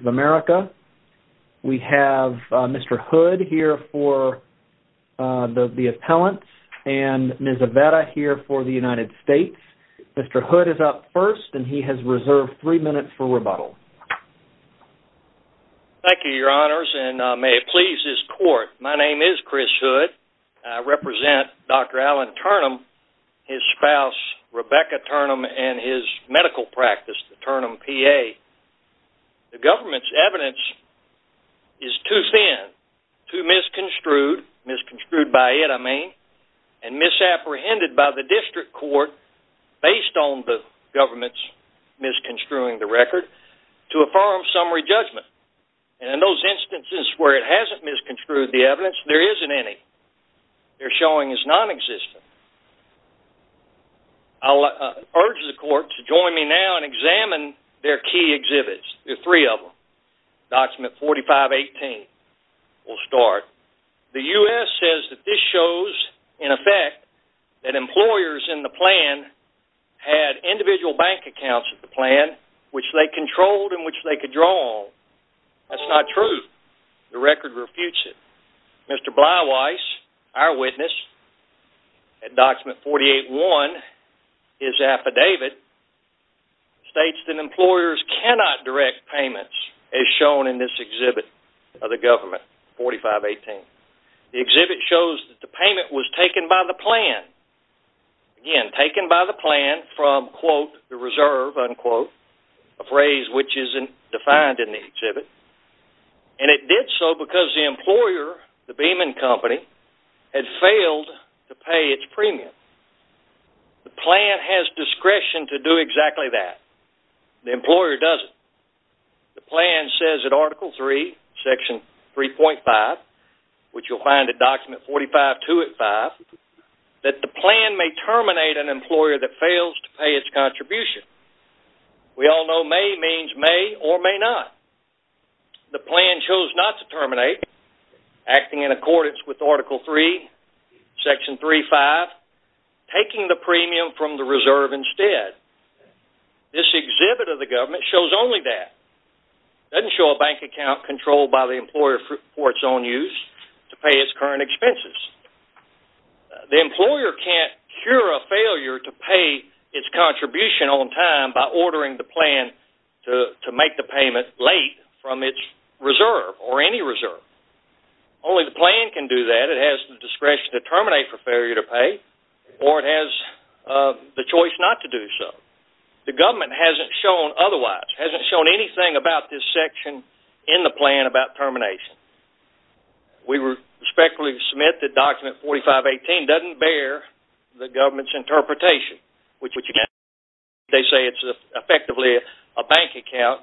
of America. We have Mr. Hood here for the appellant and Ms. Aveda here for the United States. Mr. Hood is up first and he has reserved three minutes for rebuttal. Thank you, your honors, and may it please this court, my name is Chris Hood. I represent Dr. Alan Turnham, his spouse Rebecca Turnham, and his medical practice, the Turnham PA. The government's evidence is too thin, too misconstrued, misconstrued by it, I mean, and misapprehended by the district court based on the government's misconstruing the record to affirm summary judgment. And in those instances where it hasn't misconstrued the evidence, there isn't any. They're showing it's nonexistent. I'll urge the court to join me now and examine their key exhibits, the three of them. Document 4518, we'll start. The U.S. says that this shows, in effect, that employers in the plan had individual bank accounts in the plan which they controlled and which they could draw on. That's not true. The record refutes it. Mr. Bleiweiss, our witness, at document 48-1, his affidavit states that employers cannot direct payments as shown in this exhibit of the government, 4518. The exhibit shows that the payment was taken by the plan, again, taken by the plan from, quote, the reserve, unquote, a phrase which isn't defined in the exhibit. And it did so because the employer, the Beeman Company, had failed to pay its premium. The plan has discretion to do exactly that. The employer doesn't. The plan says in article 3, section 3.5, which you'll find at document 45-2 at 5, that the plan may terminate an employer that fails to pay its contribution. We all know may means may or may not. The plan chose not to terminate, acting in accordance with article 3, section 3.5, taking the premium from the reserve instead. This exhibit of the government shows only that. It doesn't show a bank account controlled by the employer for its own use to pay its current expenses. The employer can't cure a failure to pay its contribution on time by ordering the plan to make the payment late from its reserve or any reserve. Only the plan can do that. It has the discretion to terminate for failure to pay or it has the choice not to do so. The government hasn't shown otherwise, hasn't shown anything about this section in the plan about termination. We respectfully submit that document 45-18 doesn't bear the government's interpretation, which again, they say it's effectively a bank account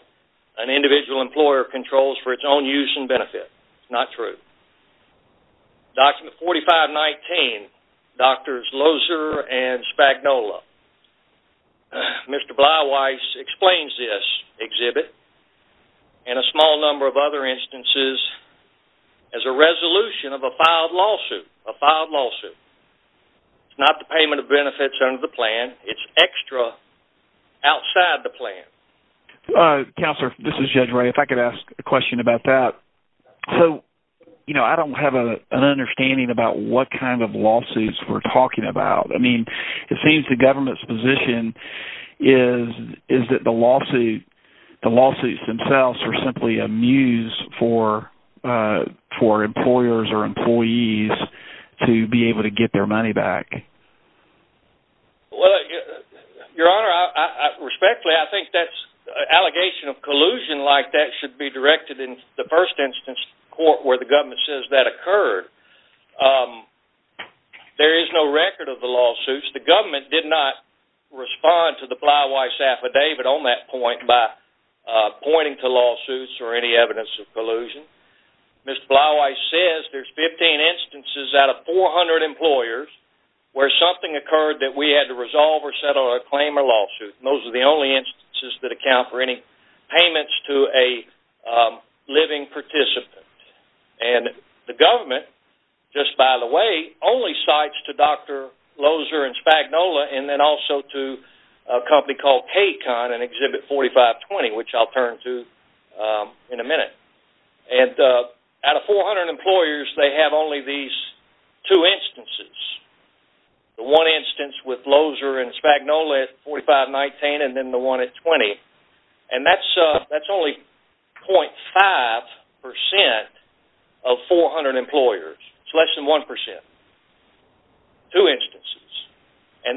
an individual employer controls for its own use and benefit. It's not true. Document 45-19, Doctors Loser and Spagnola. Mr. Bleiweiss explains this exhibit and a small number of other instances as a resolution of a filed lawsuit. It's not the payment of benefits under the plan. It's extra outside the plan. Counselor, this is Judge Ray. If I could ask a question about that. I don't have an understanding about what kind of lawsuits we're talking about. It seems the government's position is that the lawsuits themselves are simply a muse for employers or employees to be able to get their money back. Your Honor, respectfully, I think that allegation of collusion like that should be directed in the first instance court where the government says that occurred. There is no record of the lawsuits. The government did not respond to the Bleiweiss affidavit on that point by pointing to lawsuits or any evidence of collusion. Mr. Bleiweiss says there's 15 instances out of 400 employers where something occurred that we had to resolve or settle a claim or lawsuit. Those are the only instances that account for any payments to a living participant. The government, just by the way, only cites to Dr. Loeser and Spagnola and then also to a company called Kaycon and Exhibit 4520, which I'll turn to in a minute. Out of 400 employers, they have only these two instances. The one instance with Loeser and Spagnola at 4519 and then the one at 20. That's only 0.5% of 400 employers. It's less than 1%. Two instances.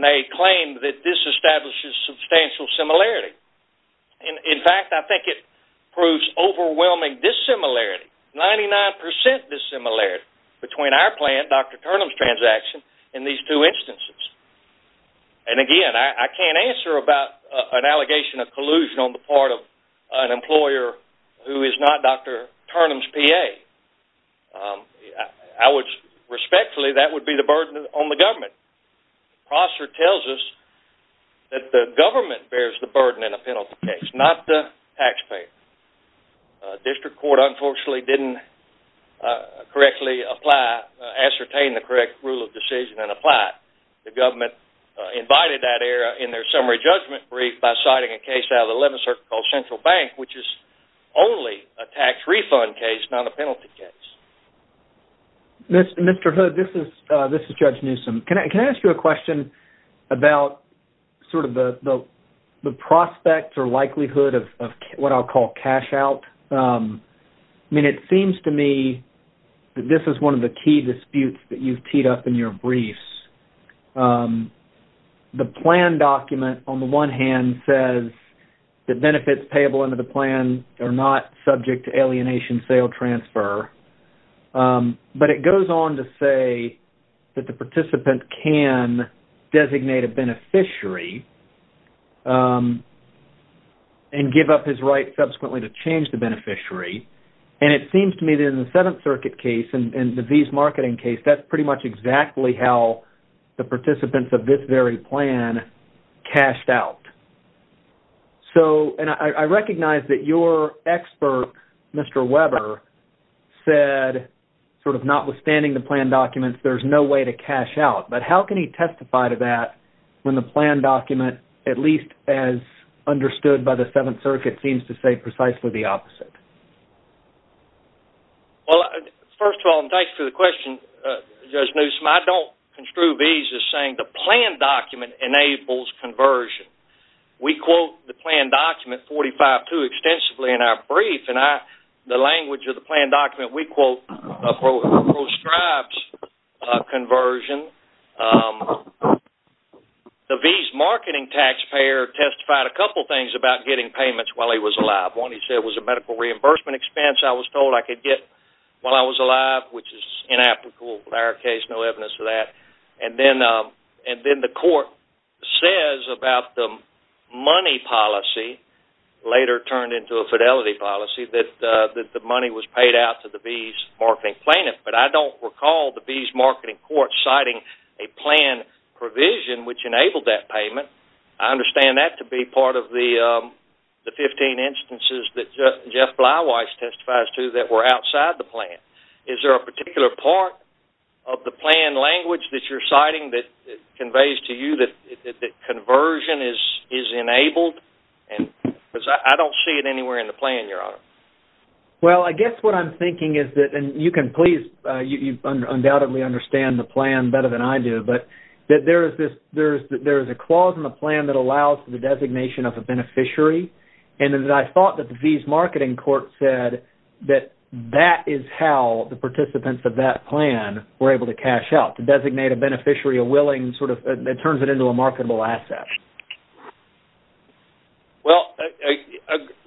They claim that this establishes substantial similarity. In fact, I think it proves overwhelming dissimilarity, 99% dissimilarity between our plan, Dr. Turnham's transaction, and these two instances. Again, I can't answer about an allegation of collusion on the part of an employer who is not Dr. Turnham's PA. Respectfully, that would be the burden on the government. Prosser tells us that the government bears the burden in a penalty case, not the taxpayer. District Court, unfortunately, didn't correctly ascertain the correct rule of decision and apply it. The government invited that error in their summary judgment brief by citing a case out of the 11th Circuit called Central Bank, which is only a tax refund case, not a penalty case. Mr. Hood, this is Judge Newsom. Can I ask you a question about sort of the prospect or likelihood of what I'll call cash out? I mean, it seems to me that this is one of the key disputes that you've teed up in your briefs. The plan document, on the one hand, says that benefits payable under the plan are not subject to alienation sale transfer, but it goes on to say that the participant can designate a beneficiary and give up his right subsequently to change the beneficiary. It seems to me that in the 7th Circuit case and the V's marketing case, that's pretty much exactly how the participants of this very plan cashed out. I recognize that your expert, Mr. Weber, said sort of notwithstanding the plan documents, there's no way to cash out. But how can he testify to that when the plan document, at least as understood by the 7th Circuit, seems to say precisely the opposite? Well, first of all, and thanks for the question, Judge Newsom, I don't construe V's as saying the plan document enables conversion. We quote the plan document 45-2 extensively in our brief, and the language of the plan document we quote proscribes conversion. The V's marketing taxpayer testified a couple things about getting payments while he was alive. One, he said it was a medical reimbursement expense I was told I could get while I was alive, which is inapplicable in our case, no evidence of that. And then the court says about the money policy, later turned into a fidelity policy, that the money was paid out to the V's marketing plaintiff. But I don't recall the V's marketing court citing a plan provision which enabled that payment. I understand that to be part of the 15 instances that Jeff Bleiweiss testifies to that were outside the plan. Is there a particular part of the plan language that you're citing that conveys to you that conversion is enabled? Because I don't see it anywhere in the plan, Your Honor. Well, I guess what I'm thinking is that, and you can please, you undoubtedly understand the plan better than I do, but that there is a clause in the plan that allows the designation of a beneficiary, and that I thought that the V's marketing court said that that is how the participants of that plan were able to cash out, to designate a beneficiary, a willing, sort of, it turns it into a marketable asset. Well,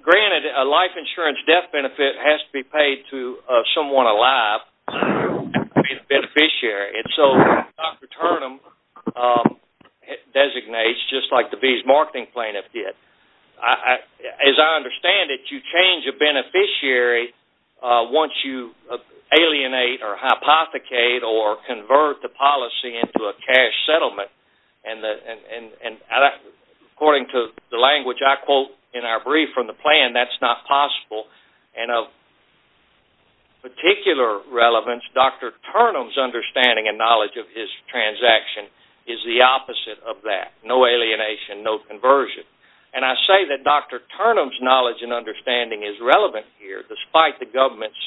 granted, a life insurance death benefit has to be paid to someone alive to be a beneficiary. And so Dr. Turnham designates, just like the V's marketing plaintiff did, as I understand it, you change a beneficiary once you alienate or hypothecate or convert the policy into a cash settlement. And according to the language I quote in our brief from the plan, that's not possible. And of particular relevance, Dr. Turnham's understanding and knowledge of his transaction is the opposite of that. No alienation, no conversion. And I say that Dr. Turnham's knowledge and understanding is relevant here, despite the government's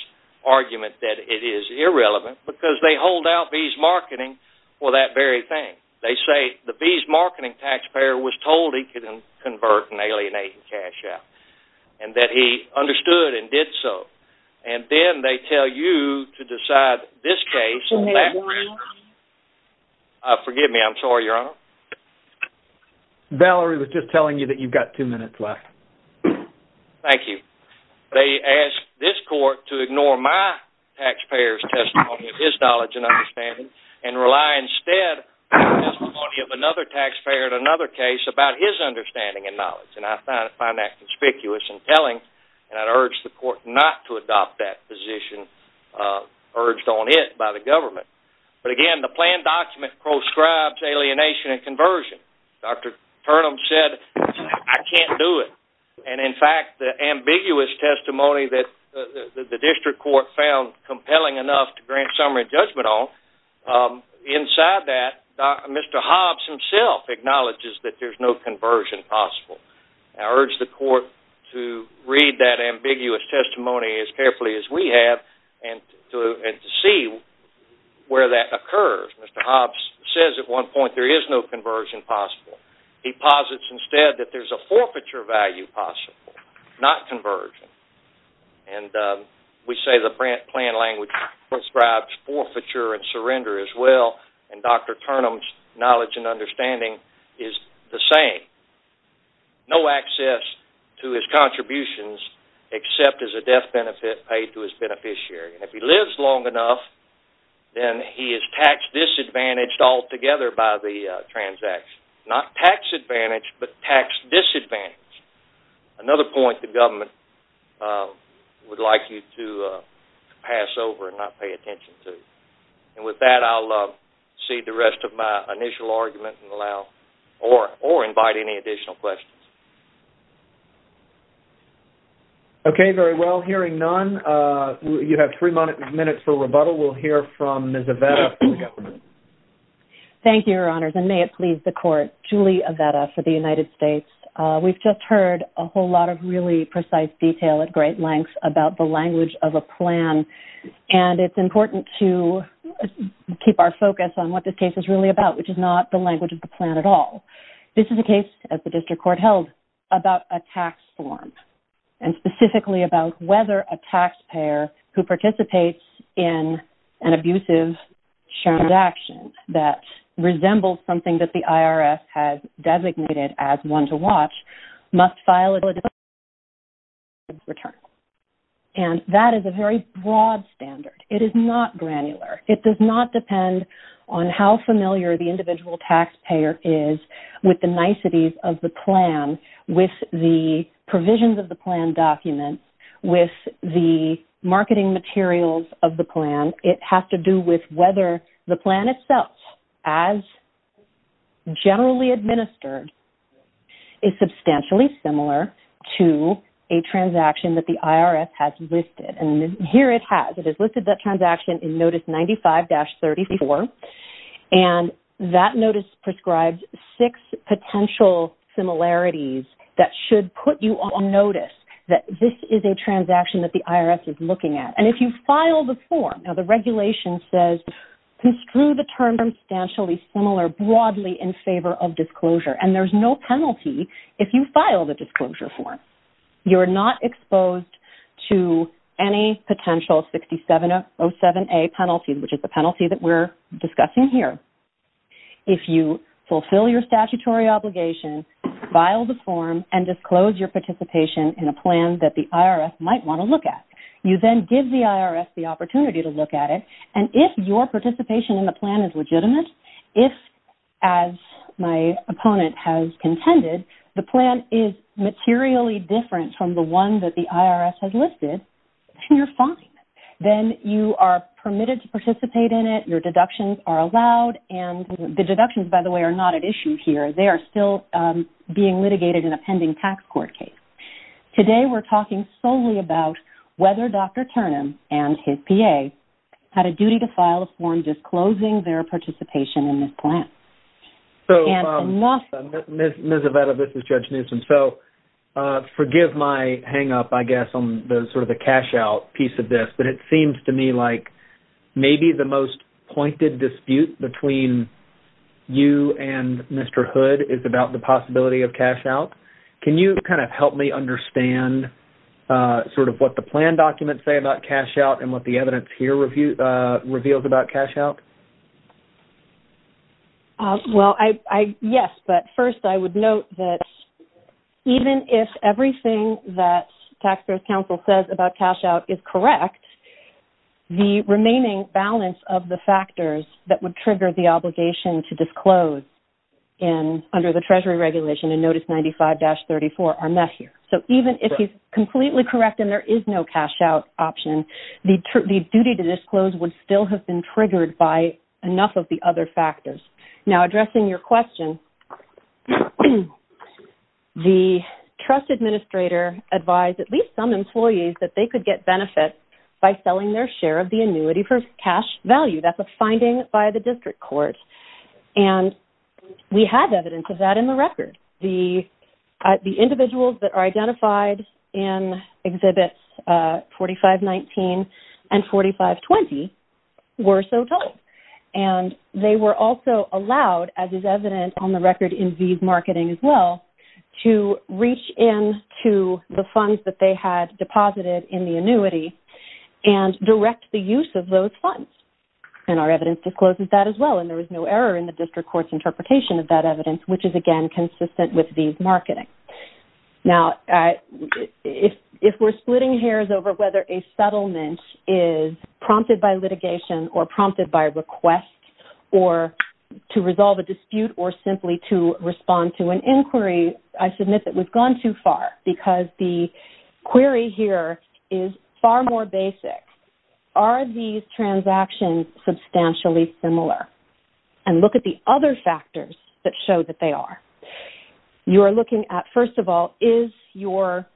argument that it is irrelevant, because they hold out V's marketing for that very thing. They say the V's marketing taxpayer was told he could convert and alienate cash out, and that he understood and did so. And then they tell you to decide this case and that case. Forgive me, I'm sorry, Your Honor. Valerie was just telling you that you've got two minutes left. Thank you. They ask this court to ignore my taxpayer's testimony of his knowledge and understanding, and rely instead on the testimony of another taxpayer in another case about his understanding and knowledge. And I find that conspicuous and telling, and I'd urge the court not to adopt that position urged on it by the government. But, again, the plan document proscribes alienation and conversion. Dr. Turnham said, I can't do it. And, in fact, the ambiguous testimony that the district court found compelling enough to grant summary judgment on, inside that, Mr. Hobbs himself acknowledges that there's no conversion possible. I urge the court to read that ambiguous testimony as carefully as we have and to see where that occurs. Mr. Hobbs says at one point there is no conversion possible. He posits instead that there's a forfeiture value possible, not conversion. And we say the plan language prescribes forfeiture and surrender as well, and Dr. Turnham's knowledge and understanding is the same. No access to his contributions except as a death benefit paid to his beneficiary. And if he lives long enough, then he is tax disadvantaged altogether by the transaction. Not tax advantaged, but tax disadvantaged. Another point the government would like you to pass over and not pay attention to. And with that, I'll cede the rest of my initial argument and allow, or invite any additional questions. Okay, very well, hearing none, you have three minutes for rebuttal. We'll hear from Ms. Avetta for the government. Thank you, Your Honors, and may it please the court, Julie Avetta for the United States. We've just heard a whole lot of really precise detail at great length about the language of a plan, and it's important to keep our focus on what this case is really about, which is not the language of the plan at all. This is a case, as the district court held, about a tax form, and specifically about whether a taxpayer who participates in an abusive transaction that resembles something that the IRS has designated as one to watch must file a disability tax return. And that is a very broad standard. It is not granular. It does not depend on how familiar the individual taxpayer is with the niceties of the plan, with the provisions of the plan documents, with the marketing materials of the plan. It has to do with whether the plan itself, as generally administered, is substantially similar to a transaction that the IRS has listed. And here it has. It has listed that transaction in Notice 95-34, and that notice prescribes six potential similarities that should put you on notice that this is a transaction that the IRS is looking at. And if you file the form, now the regulation says, construe the term substantially similar broadly in favor of disclosure. And there's no penalty if you file the disclosure form. You're not exposed to any potential 6707A penalty, which is the penalty that we're discussing here. If you fulfill your statutory obligation, file the form, and disclose your participation in a plan that the IRS might want to look at, you then give the IRS the opportunity to look at it. And if your participation in the plan is legitimate, if, as my opponent has contended, the plan is materially different from the one that the IRS has listed, then you're fine. Then you are permitted to participate in it. Your deductions are allowed. And the deductions, by the way, are not at issue here. They are still being litigated in a pending tax court case. Today we're talking solely about whether Dr. Turnham and his PA had a duty to file a form disclosing their participation in this plan. Ms. Aveda, this is Judge Newsom. So forgive my hang-up, I guess, on sort of the cash-out piece of this, but it seems to me like maybe the most pointed dispute between you and Mr. Hood is about the possibility of cash-out. Can you kind of help me understand sort of what the plan documents say about cash-out and what the evidence here reveals about cash-out? Well, yes. But first I would note that even if everything that Taxpayers' Council says about cash-out is correct, the remaining balance of the factors that would trigger the obligation to disclose under the Treasury regulation in Notice 95-34 are not here. So even if it's completely correct and there is no cash-out option, the duty to disclose would still have been triggered by enough of the other factors. Now, addressing your question, the trust administrator advised at least some employees that they could get benefits by selling their share of the annuity for cash value. That's a finding by the district court. And we have evidence of that in the record. The individuals that are identified in Exhibits 4519 and 4520 were so told. And they were also allowed, as is evident on the record in these marketing as well, to reach in to the funds that they had deposited in the annuity and direct the use of those funds. And our evidence discloses that as well. And there was no error in the district court's interpretation of that evidence, which is, again, consistent with these marketing. Now, if we're splitting hairs over whether a settlement is prompted by litigation or prompted by a request or to resolve a dispute or simply to respond to an inquiry, I submit that we've gone too far because the query here is far more basic. Are these transactions substantially similar? And look at the other factors that show that they are. You are looking at, first of all, is your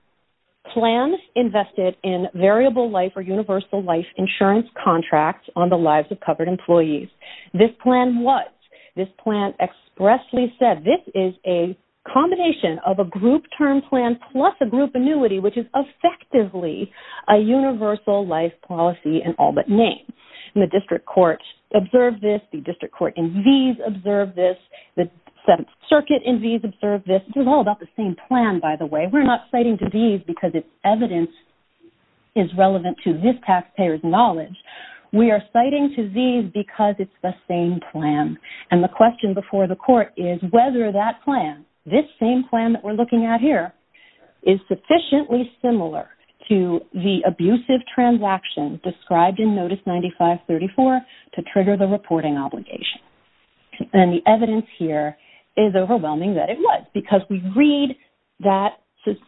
plan invested in variable life or universal life insurance contracts on the lives of covered employees? This plan was. This plan expressly said this is a combination of a group term plan plus a group annuity, which is effectively a universal life policy in all but name. And the district court observed this. The district court in these observed this. The Seventh Circuit in these observed this. This is all about the same plan, by the way. We're not citing to these because its evidence is relevant to this taxpayer's knowledge. We are citing to these because it's the same plan. And the question before the court is whether that plan, this same plan that we're looking at here, is sufficiently similar to the abusive transaction described in Notice 9534 to trigger the reporting obligation. And the evidence here is overwhelming that it was because we read that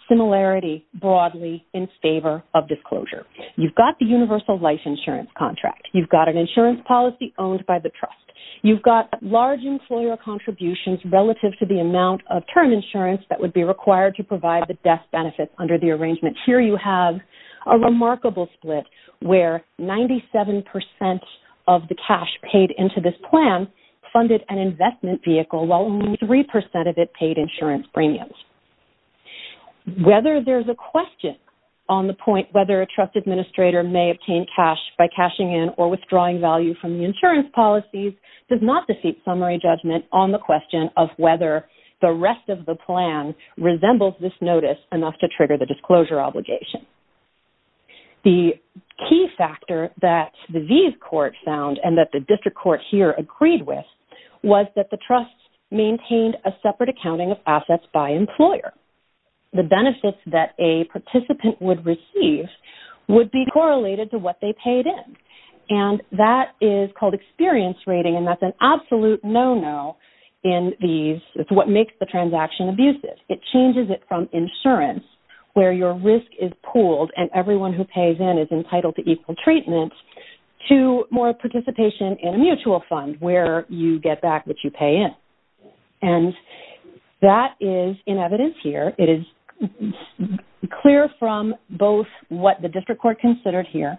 similarity broadly in favor of disclosure. You've got the universal life insurance contract. You've got an insurance policy owned by the trust. You've got large employer contributions relative to the amount of term insurance that would be required to provide the death benefits under the arrangement. Here you have a remarkable split where 97% of the cash paid into this plan funded an investment vehicle while only 3% of it paid insurance premiums. Whether there's a question on the point whether a trust administrator may obtain cash by cashing in or withdrawing value from the insurance policies does not defeat summary judgment on the question of whether the rest of the plan resembles this notice enough to trigger the disclosure obligation. The key factor that these courts found and that the district court here agreed with was that the trust maintained a separate accounting of assets by employer. The benefits that a participant would receive would be correlated to what they paid in, and that is called experience rating, and that's an absolute no-no in these. It's what makes the transaction abusive. It changes it from insurance where your risk is pooled and everyone who pays in is entitled to equal treatment to more participation in a mutual fund where you get back what you pay in. And that is in evidence here. It is clear from both what the district court considered here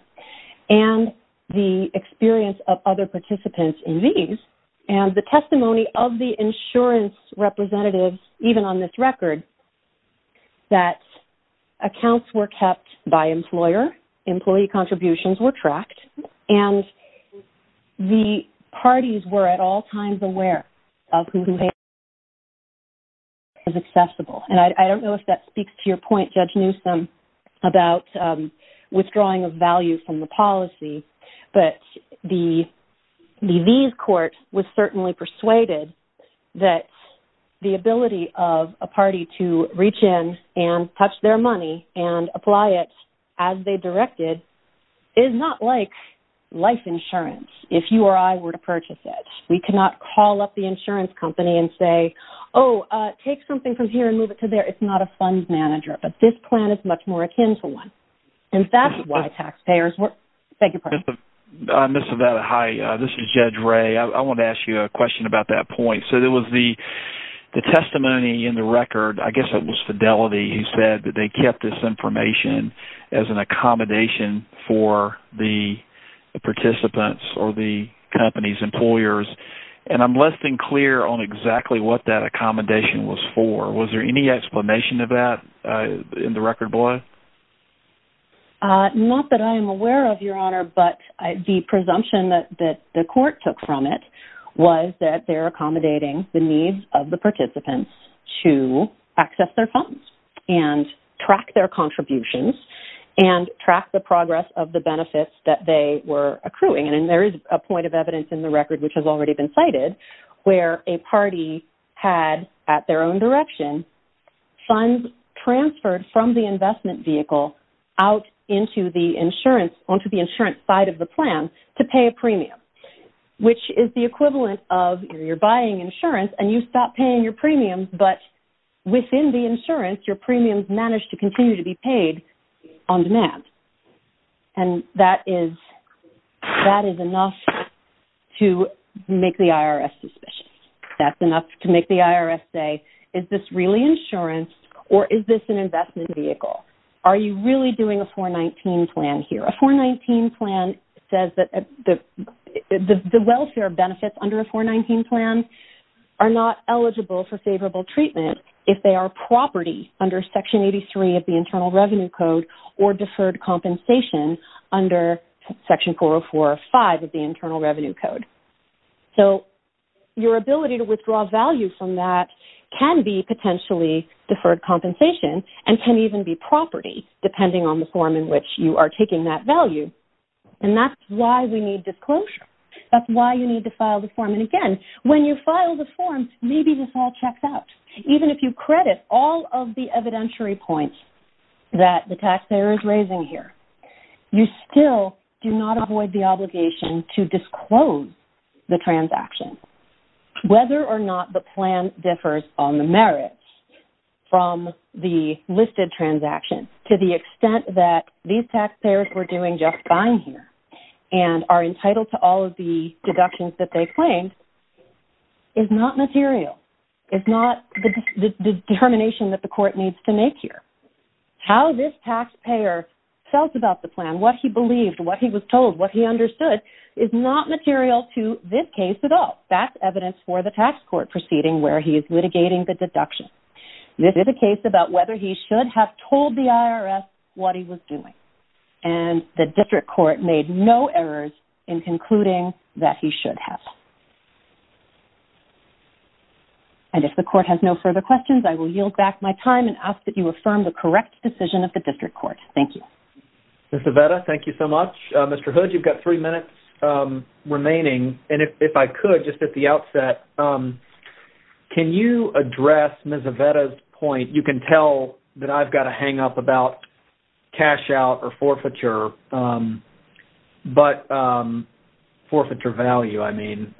and the experience of other participants in these and the testimony of the insurance representatives, even on this record, that accounts were kept by employer, employee contributions were tracked, and the parties were at all times aware of who they were paying And I don't know if that speaks to your point, Judge Newsom, about withdrawing of value from the policy, but these courts were certainly persuaded that the ability of a party to reach in and touch their money and apply it as they directed is not like life insurance if you or I were to purchase it. We cannot call up the insurance company and say, Oh, take something from here and move it to there. It's not a fund manager. But this plan is much more akin to one. And that's why taxpayers were. Thank you, President. Ms. Savetta, hi. This is Judge Ray. I wanted to ask you a question about that point. So there was the testimony in the record, I guess it was Fidelity, who said that they kept this information as an accommodation for the participants or the company's employers. And I'm less than clear on exactly what that accommodation was for. Was there any explanation of that in the record below? Not that I am aware of, Your Honor, but the presumption that the court took from it was that they're accommodating the needs of the participants to access their funds and track their contributions and track the progress of the benefits that they were accruing. And there is a point of evidence in the record, which has already been cited, where a party had, at their own direction, funds transferred from the investment vehicle out into the insurance, onto the insurance side of the plan to pay a premium, which is the equivalent of you're buying insurance and you stop paying your premiums, but within the insurance your premiums manage to continue to be paid on demand. And that is enough to make the IRS suspicious. That's enough to make the IRS say, is this really insurance or is this an investment vehicle? Are you really doing a 419 plan here? A 419 plan says that the welfare benefits under a 419 plan are not eligible for favorable treatment if they are property under Section 83 of the Internal Revenue Code or deferred compensation under Section 404 of 5 of the Internal Revenue Code. So your ability to withdraw value from that can be potentially deferred compensation and can even be property, depending on the form in which you are taking that value. And that's why we need disclosure. That's why you need to file the form. And again, when you file the form, maybe this all checks out. Even if you credit all of the evidentiary points that the taxpayer is raising here, you still do not avoid the obligation to disclose the transaction. Whether or not the plan differs on the merits from the listed transaction, to the extent that these taxpayers were doing just fine here and are entitled to all of the deductions that they claimed, is not material. It's not the determination that the court needs to make here. How this taxpayer felt about the plan, what he believed, what he was told, what he understood, is not material to this case at all. That's evidence for the tax court proceeding where he is litigating the deduction. This is a case about whether he should have told the IRS what he was doing. And the district court made no errors in concluding that he should have. And if the court has no further questions, I will yield back my time and ask that you affirm the correct decision of the district court. Thank you. Ms. Avetta, thank you so much. Mr. Hood, you've got three minutes remaining. And if I could, just at the outset, can you address Ms. Avetta's point? You can tell that I've got a hang-up about cash-out or forfeiture, but forfeiture value, I mean.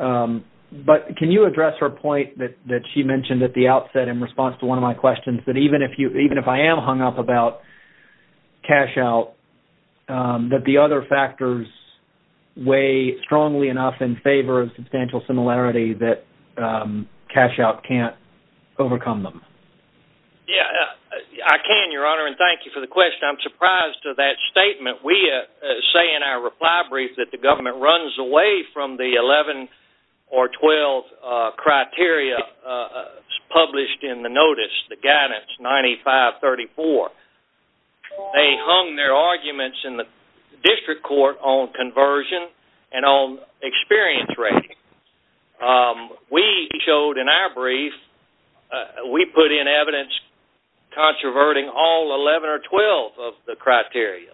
But can you address her point that she mentioned at the outset in response to one of my questions, that even if I am hung up about cash-out, that the other factors weigh strongly enough in favor of substantial similarity that cash-out can't overcome them? Yeah, I can, Your Honor, and thank you for the question. I'm surprised to that statement. We say in our reply brief that the government runs away from the 11 or 12 criteria published in the notice, the guidance 9534. They hung their arguments in the district court on conversion and on experience rating. We showed in our brief, we put in evidence controverting all 11 or 12 of the criteria.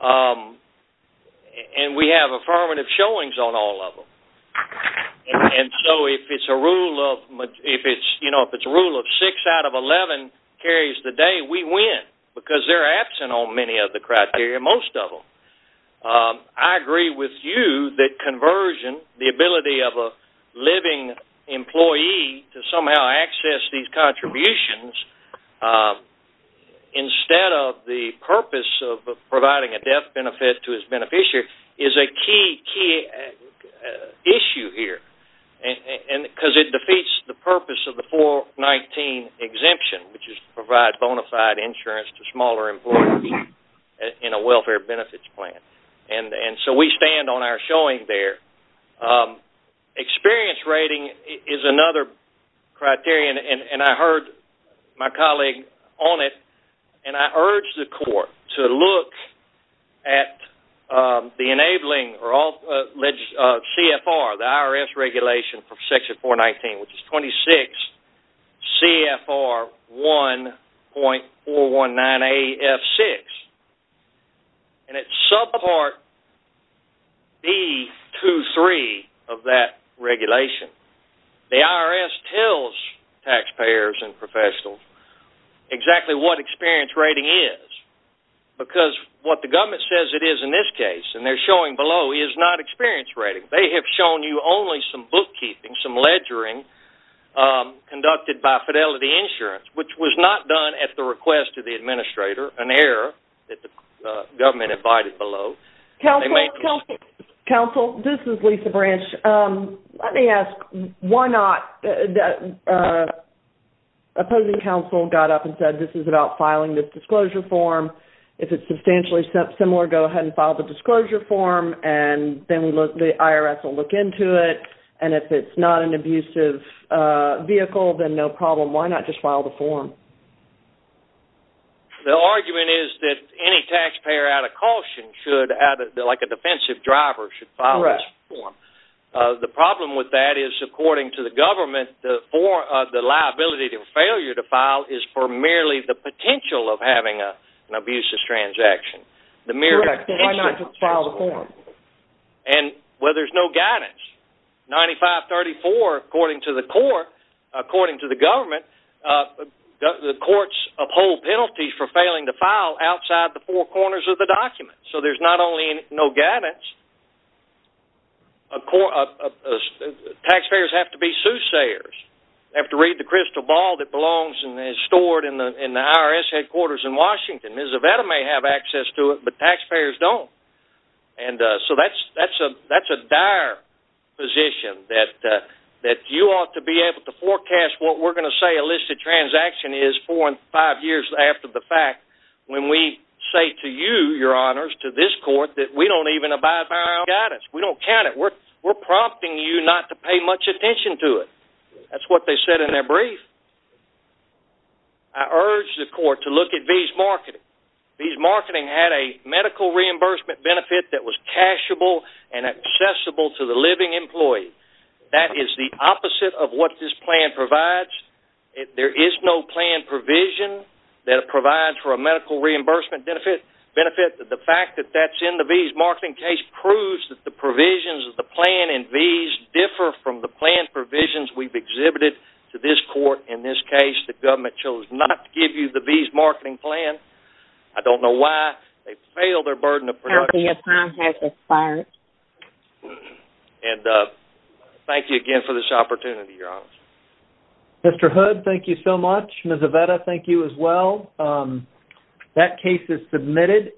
And we have affirmative showings on all of them. And so if it's a rule of six out of 11 carries the day, we win, because they're absent on many of the criteria, most of them. I agree with you that conversion, the ability of a living employee to somehow access these contributions instead of the purpose of providing a death benefit to its beneficiary, is a key issue here, because it defeats the purpose of the 419 exemption, which is to provide bona fide insurance to smaller employees in a welfare benefits plan. And so we stand on our showing there. Experience rating is another criterion, and I heard my colleague on it, and I urge the court to look at the enabling CFR, the IRS regulation for Section 419, which is 26 CFR 1.419AF6. And it's subpart B23 of that regulation. The IRS tells taxpayers and professionals exactly what experience rating is, because what the government says it is in this case, and they're showing below, is not experience rating. They have shown you only some bookkeeping, some ledgering, conducted by Fidelity Insurance, which was not done at the request of the administrator, an error that the government invited below. Counsel, this is Lisa Branch. Let me ask, why not... Opposing counsel got up and said, this is about filing this disclosure form. If it's substantially similar, go ahead and file the disclosure form, and then the IRS will look into it. And if it's not an abusive vehicle, then no problem. Why not just file the form? The argument is that any taxpayer out of caution, like a defensive driver, should file this form. The problem with that is, according to the government, the liability to failure to file is for merely the potential of having an abusive transaction. Why not just file the form? Well, there's no guidance. 9534, according to the court, according to the government, the courts uphold penalties for failing to file outside the four corners of the document. So there's not only no guidance, taxpayers have to be soothsayers. They have to read the crystal ball that belongs and is stored in the IRS headquarters in Washington. The veteran may have access to it, but taxpayers don't. And so that's a dire position, that you ought to be able to forecast what we're going to say a listed transaction is four and five years after the fact, when we say to you, your honors, to this court, that we don't even abide by our guidance. We don't count it. We're prompting you not to pay much attention to it. That's what they said in their brief. I urge the court to look at V's Marketing. V's Marketing had a medical reimbursement benefit that was cashable and accessible to the living employee. That is the opposite of what this plan provides. There is no plan provision that provides for a medical reimbursement benefit. The fact that that's in the V's Marketing case proves that the provisions of the plan in V's differ from the plan provisions we've exhibited to this court. In this case, the government chose not to give you the V's Marketing plan. I don't know why. They failed their burden of production. Thank you again for this opportunity, your honors. Mr. Hood, thank you so much. Ms. Aveda, thank you as well. That case is submitted.